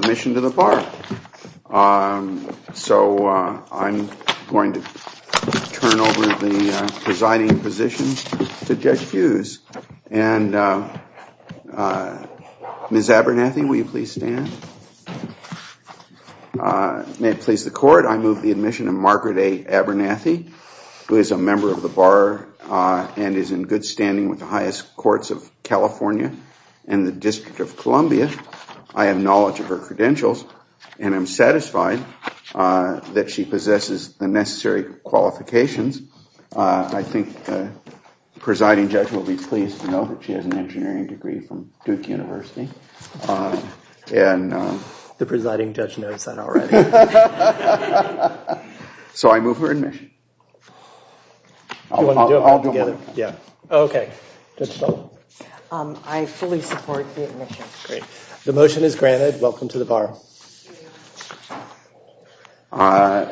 Mission to the Bar. So I'm going to turn over the presiding position to Judge Hughes. Ms. Abernathy, will you please stand? May it please the Court, I move the admission of Margaret A. Abernathy, who is a member of the Bar and is in good standing with the District of Columbia. I have knowledge of her credentials and am satisfied that she possesses the necessary qualifications. I think the presiding judge will be pleased to know that she has an engineering degree from Duke University. The presiding judge knows that already. So I move her admission. I fully support the admission. The motion is granted. Welcome to the Bar. My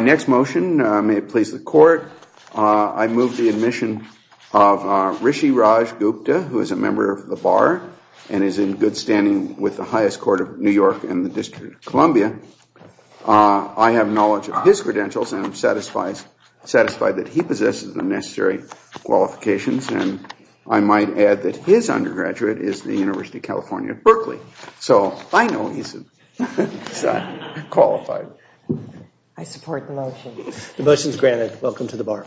next motion, may it please the Court, I move the admission of Rishi Raj Gupta, who is a member of the Bar and is in good standing with the highest court of New York and the District of Columbia. I have knowledge of his credentials and am satisfied that he possesses the necessary qualifications. And I might add that his undergraduate is the University of California at Berkeley. So I know he's qualified. I support the motion. The motion is granted. Welcome to the Bar.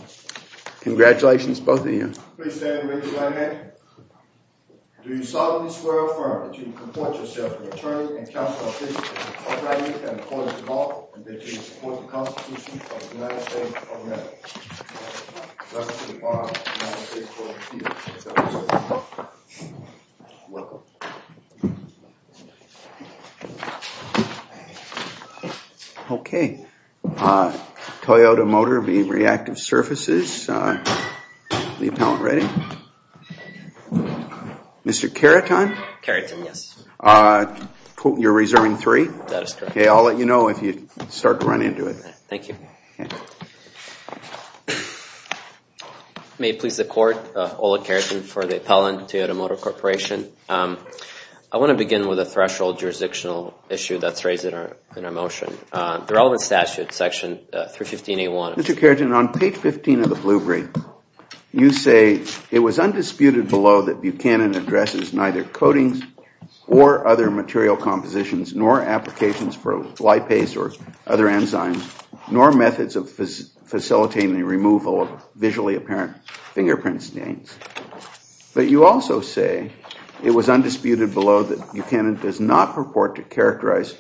Congratulations, both of you. Please stand and raise your right hand. Do you solemnly swear or affirm that you will comport yourself as an attorney and counsel to the District of Columbia and the Court of Duval, and that you will support the Constitution of the United States of America? I pledge allegiance to the flag of the United States of America and to the Republic for which it stands, one nation, under God, indivisible, with liberty and justice for all. Welcome. Okay. Toyota Motor v. Reactive Surfaces. The appellant ready? Mr. Cariton? Cariton, yes. You're reserving three? That is correct. Okay, I'll let you know if you start to run into it. Thank you. May it please the Court, Ola Cariton for the appellant, Toyota Motor Corporation. I want to begin with a threshold jurisdictional issue that's raised in our motion. The relevant statute, section 315A1. Mr. Cariton, on page 15 of the blue brief, you say, it was undisputed below that Buchanan addresses neither coatings or other material compositions nor applications for lipase or other enzymes nor methods of facilitating the removal of visually apparent fingerprint stains. But you also say it was undisputed below that Buchanan does not purport to characterize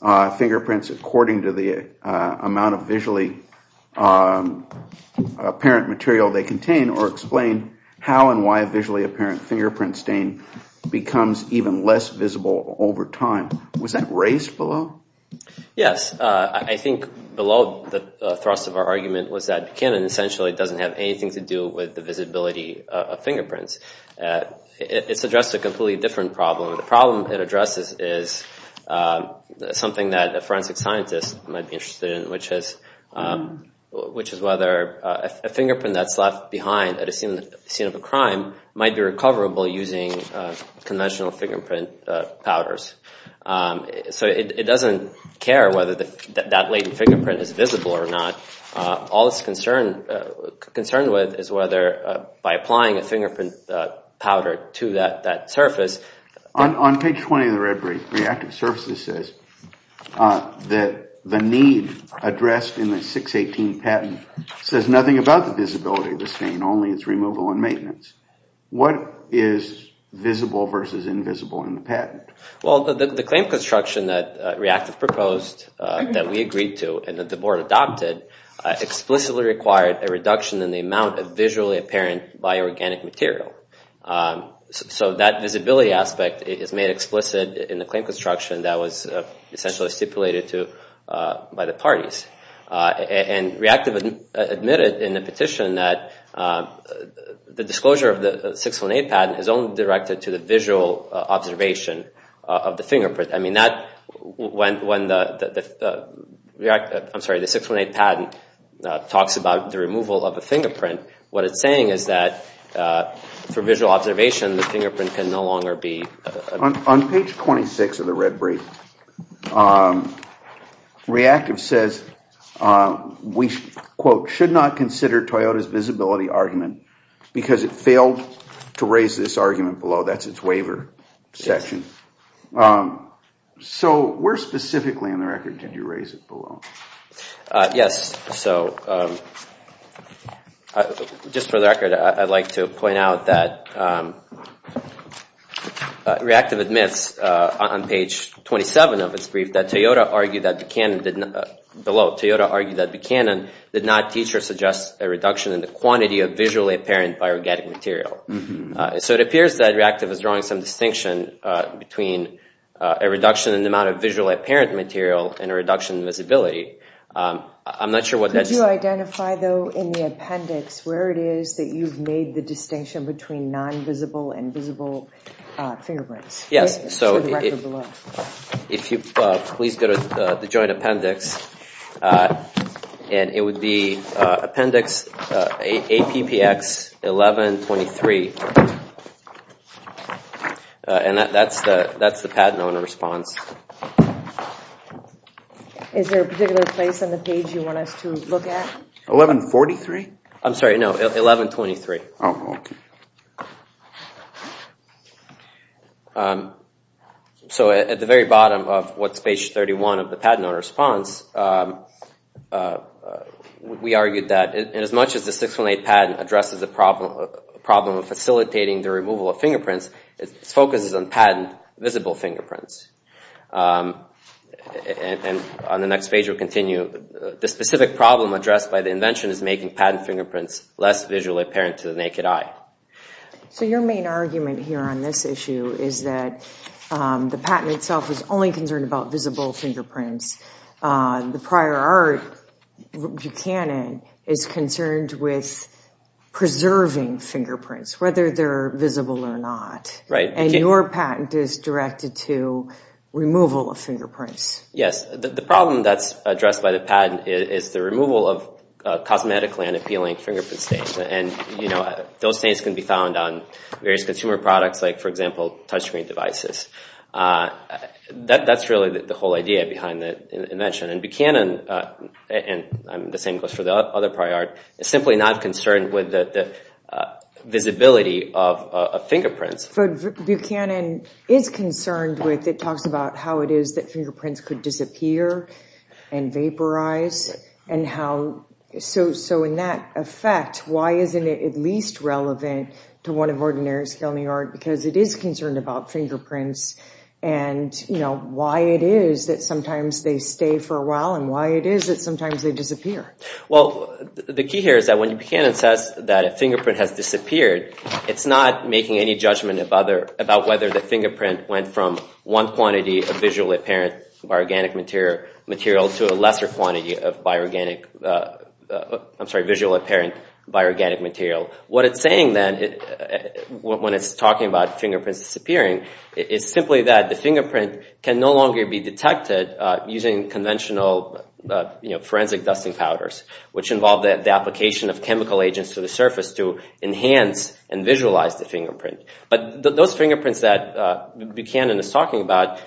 fingerprints according to the amount of visually apparent material they contain or explain how and why a visually apparent fingerprint stain becomes even less visible over time. Was that raised below? Yes. I think below the thrust of our argument was that Buchanan essentially doesn't have anything to do with the visibility of fingerprints. It's addressed a completely different problem. The problem it addresses is something that a forensic scientist might be interested in, which is whether a fingerprint that's left behind at a scene of a crime might be recoverable using conventional fingerprint powders. So it doesn't care whether that latent fingerprint is visible or not. All it's concerned with is whether by applying a fingerprint powder to that surface. On page 20 of the red brief, Reactive Services says that the need addressed in the 618 patent says nothing about the visibility of the stain, only its removal and maintenance. What is visible versus invisible in the patent? Well, the claim construction that Reactive proposed that we agreed to and that the board adopted explicitly required a reduction in the amount of visually apparent bio-organic material. So that visibility aspect is made explicit in the claim construction that was essentially stipulated by the parties. And Reactive admitted in the petition that the disclosure of the 618 patent is only directed to the visual observation of the fingerprint. I mean, when the 618 patent talks about the removal of a fingerprint, what it's saying is that for visual observation, the fingerprint can no longer be... On page 26 of the red brief, Reactive says we, quote, should not consider Toyota's visibility argument because it failed to raise this argument below. That's its waiver section. So where specifically in the record did you raise it below? Yes, so just for the record, I'd like to point out that Reactive admits on page 27 of its brief that Toyota argued that Buchanan did not teach or suggest a reduction in the quantity of visually apparent bio-organic material. So it appears that Reactive is drawing some distinction between a reduction in the amount of visually apparent material and a reduction in visibility. I'm not sure what that's... Could you identify, though, in the appendix where it is that you've made the distinction between non-visible and visible fingerprints? Yes, so if you please go to the joint appendix, and it would be appendix APPX 1123. And that's the patent owner's response. Is there a particular place on the page you want us to look at? 1143? I'm sorry, no, 1123. Oh, okay. So at the very bottom of what's page 31 of the patent owner's response, we argued that as much as the 618 patent addresses the problem of facilitating the removal of fingerprints, its focus is on patent visible fingerprints. And on the next page, we'll continue. The specific problem addressed by the invention is making patent fingerprints less visually apparent to the naked eye. So your main argument here on this issue is that the patent itself is only concerned about visible fingerprints. The prior art, Buchanan, is concerned with preserving fingerprints, whether they're visible or not. And your patent is directed to removal of fingerprints. Yes. The problem that's addressed by the patent is the removal of cosmetically and appealing fingerprint stains. And those stains can be found on various consumer products, like, for example, touchscreen devices. That's really the whole idea behind the invention. And Buchanan, and the same goes for the other prior art, is simply not concerned with the visibility of fingerprints. But Buchanan is concerned with, it talks about how it is that fingerprints could disappear and vaporize. And how, so in that effect, why isn't it at least relevant to one of Ordinary Scale New York, because it is concerned about fingerprints and why it is that sometimes they stay for a while and why it is that sometimes they disappear. Well, the key here is that when Buchanan says that a fingerprint has disappeared, it's not making any judgment about whether the fingerprint went from one quantity of visually apparent bio-organic material to a lesser quantity of bio-organic, I'm sorry, visually apparent bio-organic material. What it's saying then when it's talking about fingerprints disappearing is simply that the fingerprint can no longer be detected using conventional forensic dusting powders, which involve the application of chemical agents to the surface to enhance and visualize the fingerprint. But those fingerprints that Buchanan is talking about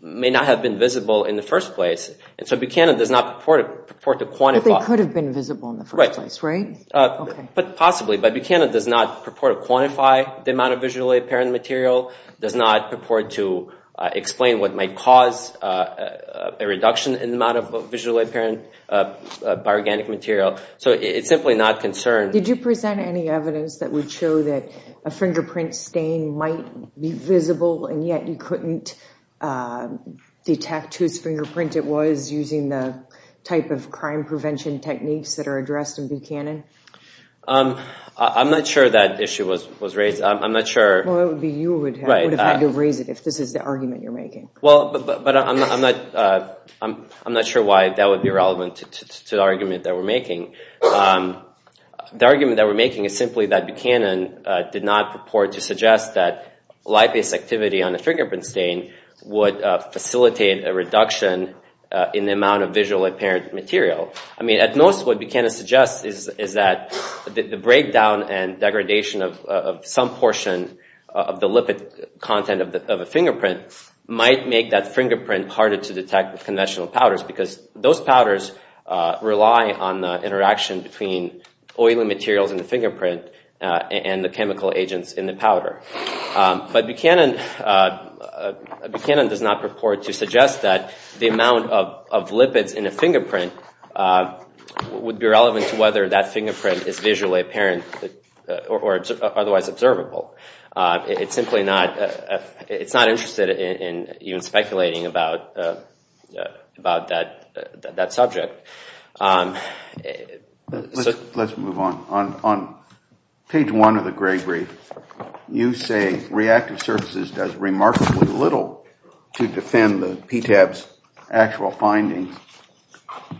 may not have been visible in the first place. And so Buchanan does not purport to quantify... But they could have been visible in the first place, right? But possibly, but Buchanan does not purport to quantify the amount of visually apparent material, does not purport to explain what might cause a reduction in the amount of visually apparent bio-organic material. So it's simply not concerned. Did you present any evidence that would show that a fingerprint stain might be visible and yet you couldn't detect whose fingerprint it was using the type of crime prevention techniques that are addressed in Buchanan? I'm not sure that issue was raised. I'm not sure... Well, it would be you who would have had to raise it if this is the argument you're making. Well, but I'm not sure why that would be relevant to the argument that we're making. The argument that we're making is simply that Buchanan did not purport to suggest that light-based activity on a fingerprint stain would facilitate a reduction in the amount of visually apparent material. I mean, at most what Buchanan suggests is that the breakdown and degradation of some portion of the lipid content of a fingerprint might make that fingerprint harder to detect with conventional powders because those powders rely on the interaction between oily materials in the fingerprint and the chemical agents in the powder. But Buchanan does not purport to suggest that the amount of lipids in a fingerprint would be relevant to whether that fingerprint is visually apparent or otherwise observable. It's simply not interested in even speculating about that subject. Let's move on. On page one of the Gray Brief, you say reactive surfaces does remarkably little to defend the PTAB's actual findings.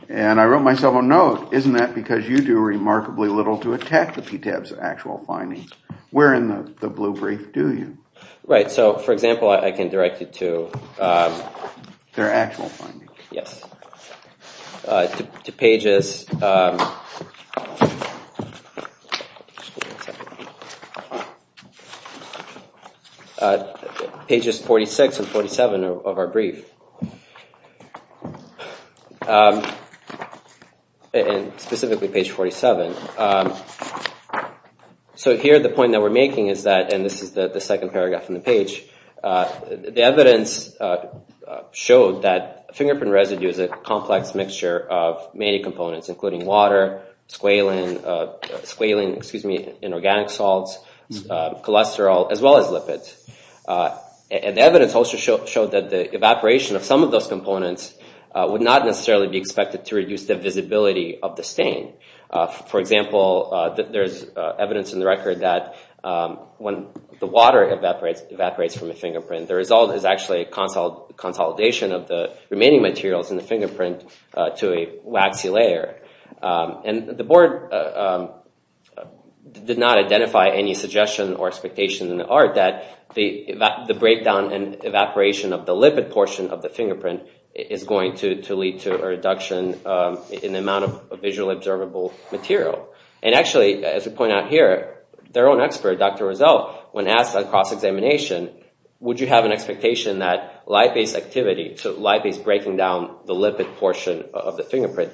And I wrote myself a note. Isn't that because you do remarkably little to attack the PTAB's actual findings? Where in the Blue Brief do you? Right. So, for example, I can direct you to their actual findings. Yes. To pages 46 and 47 of our brief. And specifically page 47. So here the point that we're making is that, and this is the second paragraph on the page, the evidence showed that fingerprint residue is a complex mixture of many components, including water, squalene, inorganic salts, cholesterol, as well as lipids. And the evidence also showed that the evaporation of some of those components would not necessarily be expected to reduce the visibility of the stain. For example, there's evidence in the record that when the water evaporates from a fingerprint, the result is actually a consolidation of the remaining materials in the fingerprint to a waxy layer. And the board did not identify any suggestion or expectation in the art that the breakdown and evaporation of the lipid portion of the fingerprint is going to lead to a reduction in the amount of visually observable material. And actually, as we point out here, their own expert, Dr. Rizzo, when asked at a cross-examination, would you have an expectation that lipase activity, so lipase breaking down the lipid portion of the fingerprint,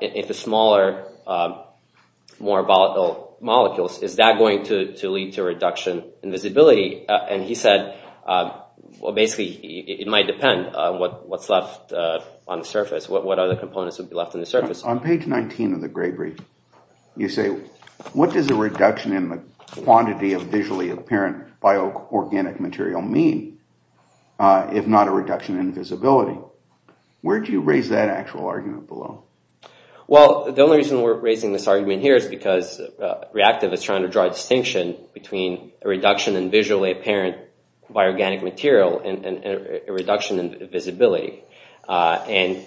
if the smaller, more volatile molecules, is that going to lead to a reduction in visibility? And he said, well, basically it might depend on what's left on the surface, what other components would be left on the surface. On page 19 of the Gray Brief, you say, what does a reduction in the quantity of visually apparent bio-organic material mean, if not a reduction in visibility? Where do you raise that actual argument below? Well, the only reason we're raising this argument here is because Reactive is trying to draw a distinction between a reduction in visually apparent bio-organic material and a reduction in visibility. And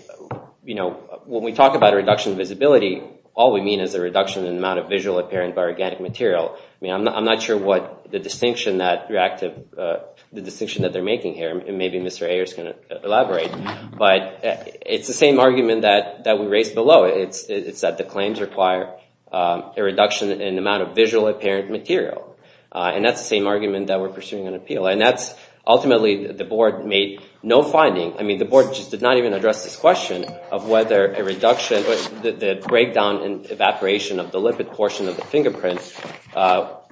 when we talk about a reduction in visibility, all we mean is a reduction in the amount of visually apparent bio-organic material. I'm not sure what the distinction that Reactive, the distinction that they're making here, and maybe Mr. Ayer is going to elaborate, but it's the same argument that we raised below. It's that the claims require a reduction in the amount of visually apparent material. And that's the same argument that we're pursuing on appeal. And that's ultimately, the board made no finding. I mean, the board just did not even address this question of whether a reduction, the breakdown and evaporation of the lipid portion of the fingerprint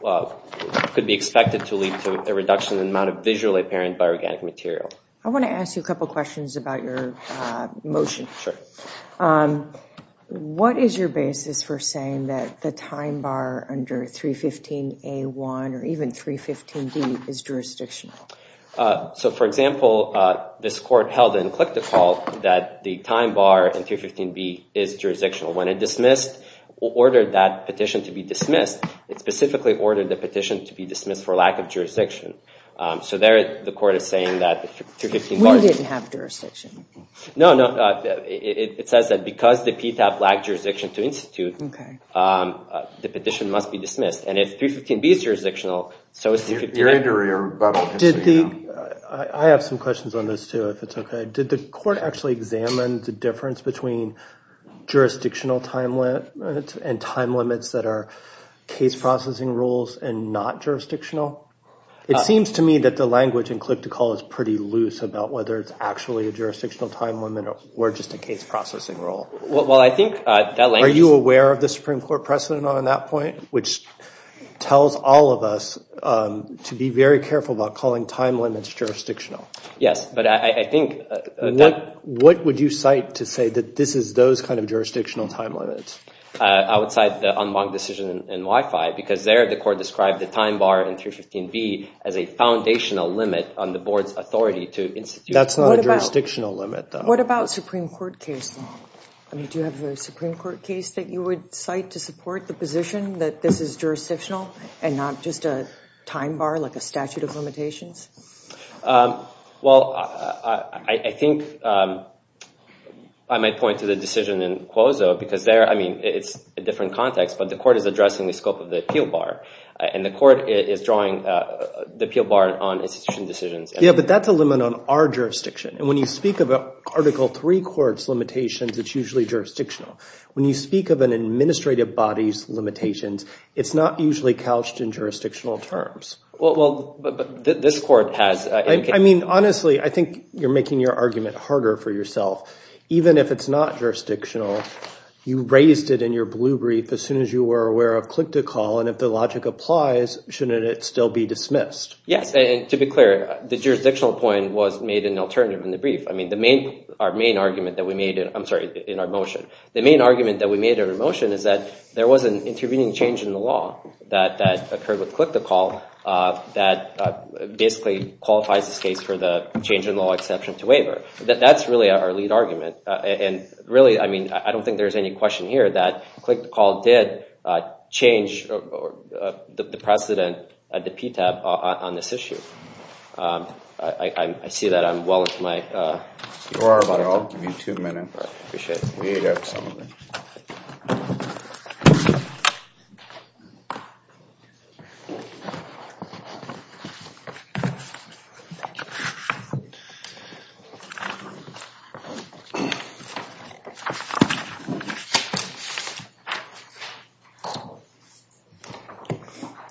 could be expected to lead to a reduction in the amount of visually apparent bio-organic material. I want to ask you a couple questions about your motion. Sure. What is your basis for saying that the time bar under 315A1 or even 315D is jurisdictional? So, for example, this court held and clicked a call that the time bar in 315B is jurisdictional. When it dismissed, ordered that petition to be dismissed, it specifically ordered the petition to be dismissed for lack of jurisdiction. So there, the court is saying that 315B… We didn't have jurisdiction. No, no. It says that because the PTAP lacked jurisdiction to institute, the petition must be dismissed. And if 315B is jurisdictional, so is 315… I have some questions on this, too, if it's okay. Did the court actually examine the difference between jurisdictional time limits and time limits that are case processing rules and not jurisdictional? It seems to me that the language in click to call is pretty loose about whether it's actually a jurisdictional time limit or just a case processing rule. Well, I think that language… Are you aware of the Supreme Court precedent on that point, which tells all of us to be very careful about calling time limits jurisdictional? Yes, but I think that… What would you cite to say that this is those kind of jurisdictional time limits? I would cite the unblocked decision in Wi-Fi, because there the court described the time bar in 315B as a foundational limit on the board's authority to institute… That's not a jurisdictional limit, though. What about a Supreme Court case? Do you have a Supreme Court case that you would cite to support the position that this is jurisdictional and not just a time bar like a statute of limitations? Well, I think I might point to the decision in Quozo, because there it's a different context, but the court is addressing the scope of the appeal bar, and the court is drawing the appeal bar on institution decisions. Yeah, but that's a limit on our jurisdiction, and when you speak of Article III court's limitations, it's usually jurisdictional. When you speak of an administrative body's limitations, it's not usually couched in jurisdictional terms. Well, this court has… I mean, honestly, I think you're making your argument harder for yourself. Even if it's not jurisdictional, you raised it in your blue brief as soon as you were aware of click-to-call, and if the logic applies, shouldn't it still be dismissed? Yes, and to be clear, the jurisdictional point was made in alternative in the brief. I mean, our main argument that we made in our motion, the main argument that we made in our motion is that there was an intervening change in the law that occurred with click-to-call that basically qualifies this case for the change in law exception to waiver. That's really our lead argument, and really, I mean, I don't think there's any question here that click-to-call did change the precedent at the PTAB on this issue. I see that I'm well into my… You are, but I'll give you two minutes. I appreciate it.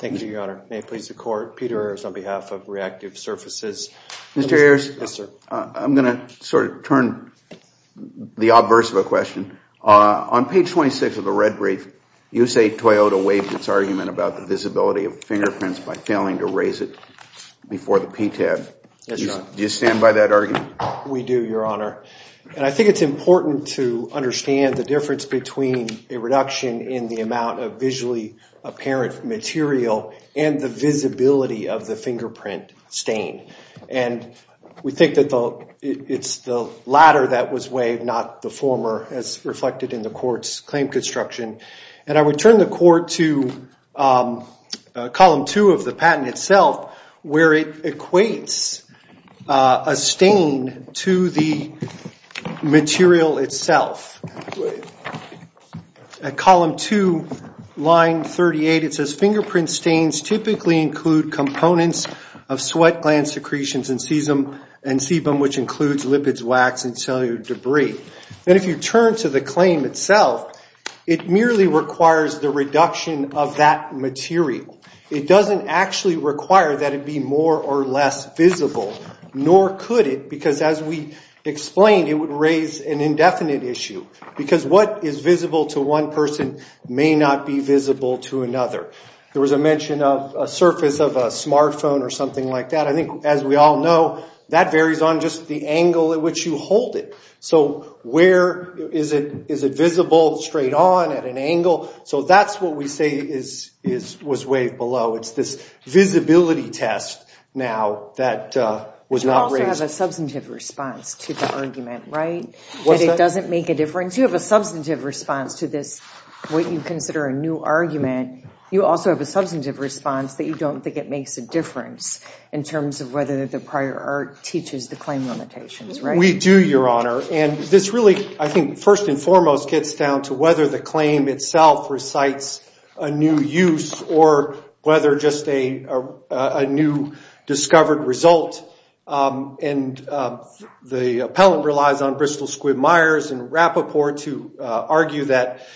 Thank you, Your Honor. May it please the Court. Peter Ayers on behalf of Reactive Surfaces. Mr. Ayers? Yes, sir. I'm going to sort of turn the obverse of a question. On page 26 of the red brief, you say Toyota waived its argument about the visibility of fingerprints by failing to raise it before the PTAB. Yes, Your Honor. Do you stand by that argument? We do, Your Honor, and I think it's important to understand the difference between a reduction in the amount of visually apparent material and the visibility of the fingerprint stain. And we think that it's the latter that was waived, not the former, as reflected in the Court's claim construction. And I would turn the Court to column 2 of the patent itself, where it equates a stain to the material itself. At column 2, line 38, it says, fingerprint stains typically include components of sweat gland secretions and sebum, which includes lipids, wax, and cellular debris. And if you turn to the claim itself, it merely requires the reduction of that material. It doesn't actually require that it be more or less visible, nor could it, because as we explained, it would raise an indefinite issue, because what is visible to one person may not be visible to another. There was a mention of a surface of a smartphone or something like that. I think, as we all know, that varies on just the angle at which you hold it. So where is it visible, straight on, at an angle? So that's what we say was waived below. It's this visibility test now that was not raised. You also have a substantive response to the argument, right, that it doesn't make a difference? You have a substantive response to this, what you consider a new argument. You also have a substantive response that you don't think it makes a difference in terms of whether the prior art teaches the claim limitations, right? We do, Your Honor. And this really, I think, first and foremost, gets down to whether the claim itself recites a new use or whether just a new discovered result. And the appellant relies on Bristol-Squibb-Myers and Rapoport to argue that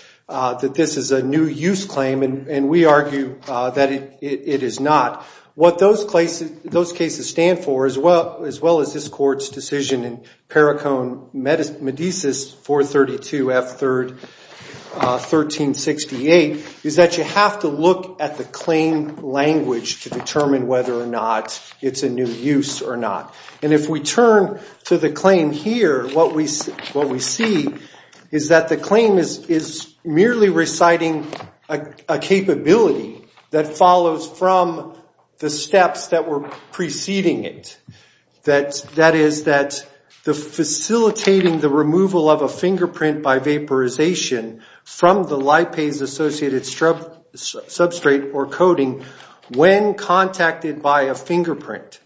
this is a new use claim, and we argue that it is not. What those cases stand for, as well as this Court's decision in Perricone Medesis 432F1368, is that you have to look at the claim language to determine whether or not it's a new use or not. And if we turn to the claim here, what we see is that the claim is merely reciting a capability that follows from the steps that were preceding it. That is, facilitating the removal of a fingerprint by vaporization from the lipase-associated substrate or coating when contacted by a fingerprint.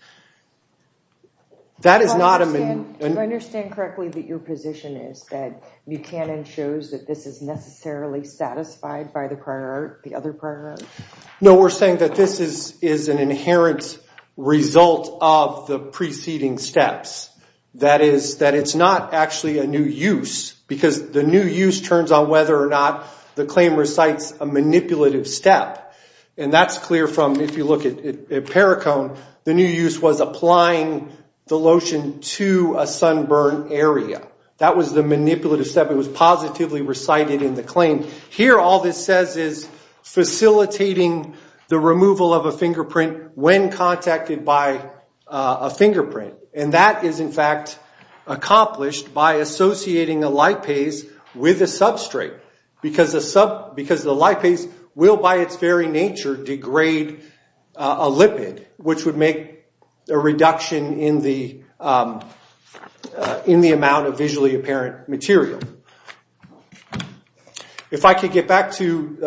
That is not a... If I understand correctly, that your position is that the other prior art? No, we're saying that this is an inherent result of the preceding steps. That is, that it's not actually a new use because the new use turns on whether or not the claim recites a manipulative step. And that's clear from, if you look at Perricone, the new use was applying the lotion to a sunburn area. That was the manipulative step. It was positively recited in the claim. Here, all this says is facilitating the removal of a fingerprint when contacted by a fingerprint. And that is, in fact, accomplished by associating a lipase with a substrate because the lipase will, by its very nature, degrade a lipid, which would make a reduction in the amount of visually apparent material. If I could get back to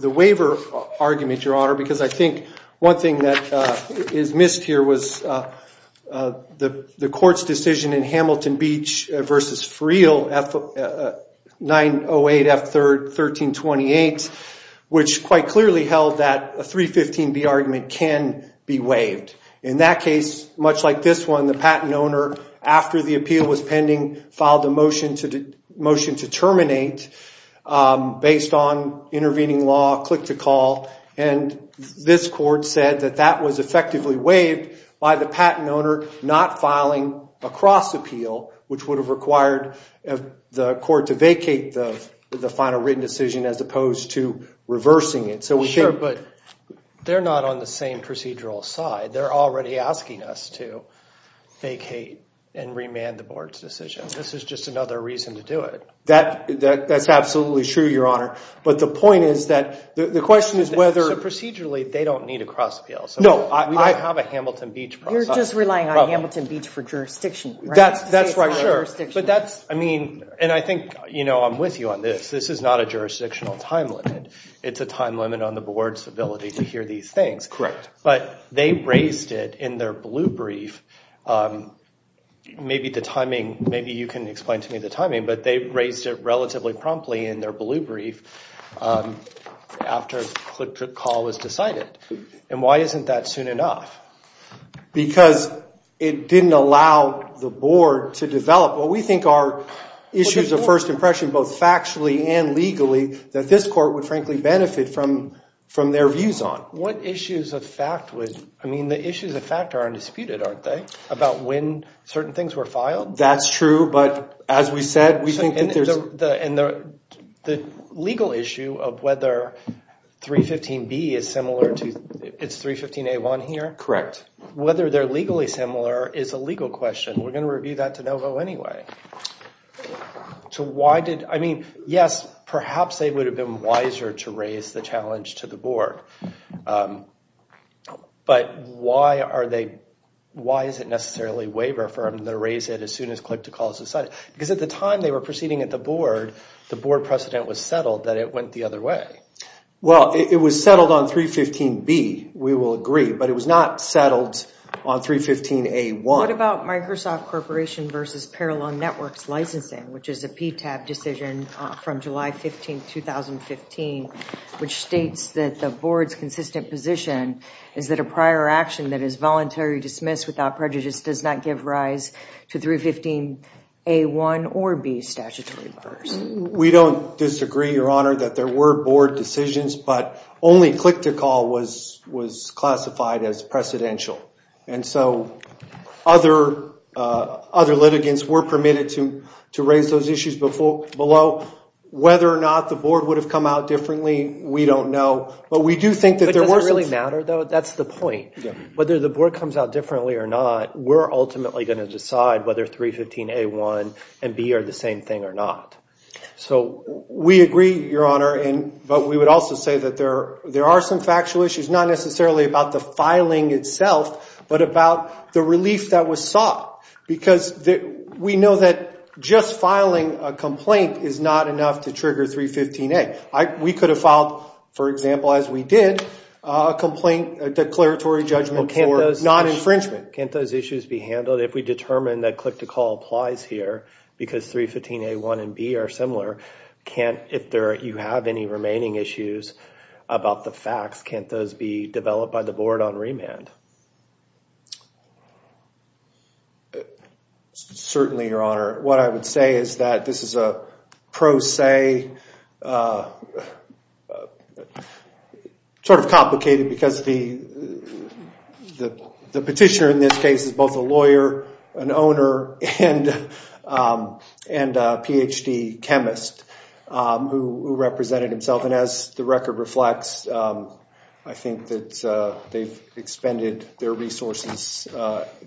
the waiver argument, Your Honor, because I think one thing that is missed here was the court's decision in Hamilton Beach v. Friel, 908F1328, which quite clearly held that a 315B argument can be waived. In that case, much like this one, the patent owner, after the appeal was pending, filed a motion to terminate based on intervening law, click-to-call. And this court said that that was effectively waived by the patent owner not filing a cross-appeal, which would have required the court to vacate the final written decision as opposed to reversing it. Sure, but they're not on the same procedural side. They're already asking us to vacate and remand the board's decision. This is just another reason to do it. That's absolutely true, Your Honor. But the point is that the question is whether— So procedurally, they don't need a cross-appeal. No, we don't have a Hamilton Beach process. You're just relying on Hamilton Beach for jurisdiction, right? That's right, sure. But that's, I mean—and I think, you know, I'm with you on this. This is not a jurisdictional time limit. It's a time limit on the board's ability to hear these things. Correct. But they raised it in their blue brief. Maybe the timing—maybe you can explain to me the timing, but they raised it relatively promptly in their blue brief after the call was decided. And why isn't that soon enough? Because it didn't allow the board to develop what we think are issues of first impression, both factually and legally, that this court would frankly benefit from their views on. What issues of fact would—I mean, the issues of fact are undisputed, aren't they? About when certain things were filed? That's true, but as we said, we think that there's— And the legal issue of whether 315B is similar to—it's 315A1 here? Correct. Whether they're legally similar is a legal question. We're going to review that de novo anyway. So why did—I mean, yes, perhaps they would have been wiser to raise the challenge to the board, but why are they—why is it necessarily waiver for them to raise it as soon as collective call is decided? Because at the time they were proceeding at the board, the board precedent was settled that it went the other way. Well, it was settled on 315B, we will agree, but it was not settled on 315A1. What about Microsoft Corporation versus Parallel Networks licensing, which is a PTAB decision from July 15, 2015, which states that the board's consistent position is that a prior action that is voluntarily dismissed without prejudice does not give rise to 315A1 or B statutory bars? We don't disagree, Your Honor, that there were board decisions, but only click-to-call was classified as precedential. And so other litigants were permitted to raise those issues below. Whether or not the board would have come out differently, we don't know. But we do think that there were some— But does it really matter, though? That's the point. Whether the board comes out differently or not, we're ultimately going to decide whether 315A1 and B are the same thing or not. So we agree, Your Honor, but we would also say that there are some factual issues, not necessarily about the filing itself, but about the relief that was sought. Because we know that just filing a complaint is not enough to trigger 315A. We could have filed, for example, as we did, a declaratory judgment for non-infringement. Can't those issues be handled if we determine that click-to-call applies here because 315A1 and B are similar? If you have any remaining issues about the facts, can't those be developed by the board on remand? Certainly, Your Honor. What I would say is that this is a pro se— sort of complicated because the petitioner in this case is both a lawyer, an owner, and a Ph.D. chemist who represented himself. And as the record reflects, I think that they've expended their resources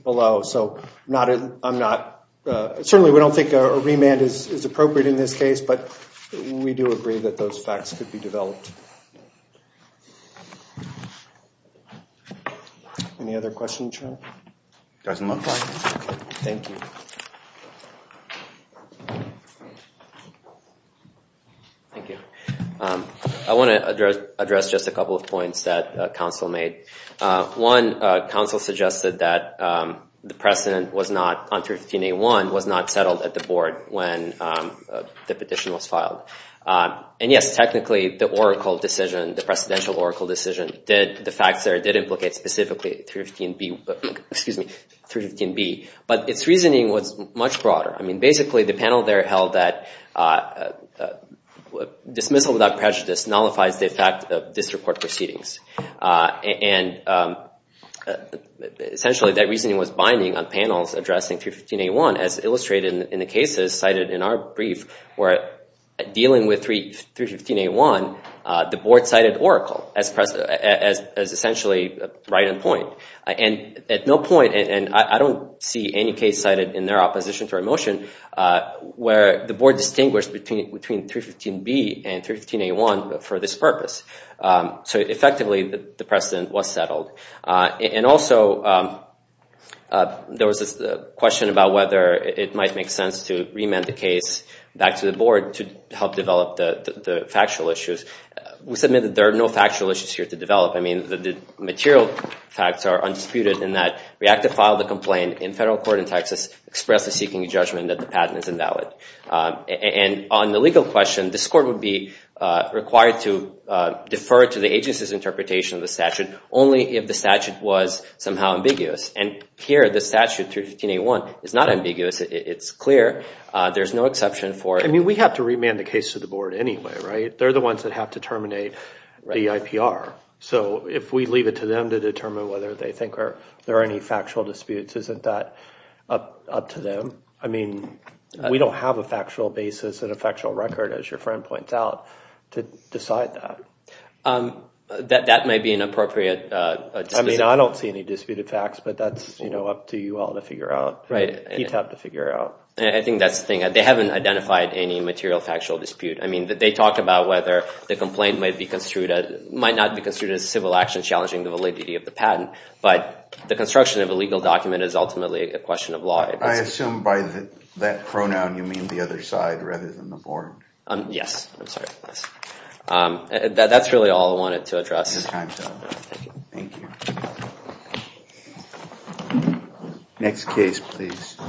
below. So I'm not— Certainly, we don't think a remand is appropriate in this case, but we do agree that those facts could be developed. Any other questions, Your Honor? Doesn't look like it. Thank you. Thank you. I want to address just a couple of points that counsel made. One, counsel suggested that the precedent on 315A1 was not settled at the board when the petition was filed. And yes, technically, the oracle decision, the precedential oracle decision, the facts there did implicate specifically 315B. But its reasoning was that the precedent was not settled and its reasoning was much broader. I mean, basically, the panel there held that dismissal without prejudice nullifies the effect of disreport proceedings. And essentially, that reasoning was binding on panels addressing 315A1 as illustrated in the cases cited in our brief where dealing with 315A1, the board cited oracle as essentially right on point. And at no point, and I don't see any case cited in their opposition to our motion, where the board distinguished between 315B and 315A1 for this purpose. So effectively, the precedent was settled. And also, there was this question about whether it might make sense to remand the case back to the board to help develop the factual issues. We submit that there are no factual issues here to develop. I mean, the material facts are undisputed in that we have to file the complaint in federal court in Texas expressly seeking a judgment that the patent is invalid. And on the legal question, this court would be required to defer to the agency's interpretation of the statute only if the statute was somehow ambiguous. And here, the statute, 315A1, is not ambiguous. It's clear. There's no exception for it. I mean, we have to remand the case to the board anyway, right? They're the ones that have to terminate the IPR. So if we leave it to them to determine whether they think there are any factual disputes, isn't that up to them? I mean, we don't have a factual basis and a factual record, as your friend points out, to decide that. That may be an appropriate... I mean, I don't see any disputed facts, but that's up to you all to figure out. You'd have to figure it out. I think that's the thing. They haven't identified any material factual dispute. I mean, they talked about whether the complaint might be construed as a civil action challenging the validity of the patent. But the construction of a legal document is ultimately a question of law. I assume by that pronoun, you mean the other side rather than the board. Yes. I'm sorry. That's really all I wanted to address. Thank you. Next case, please.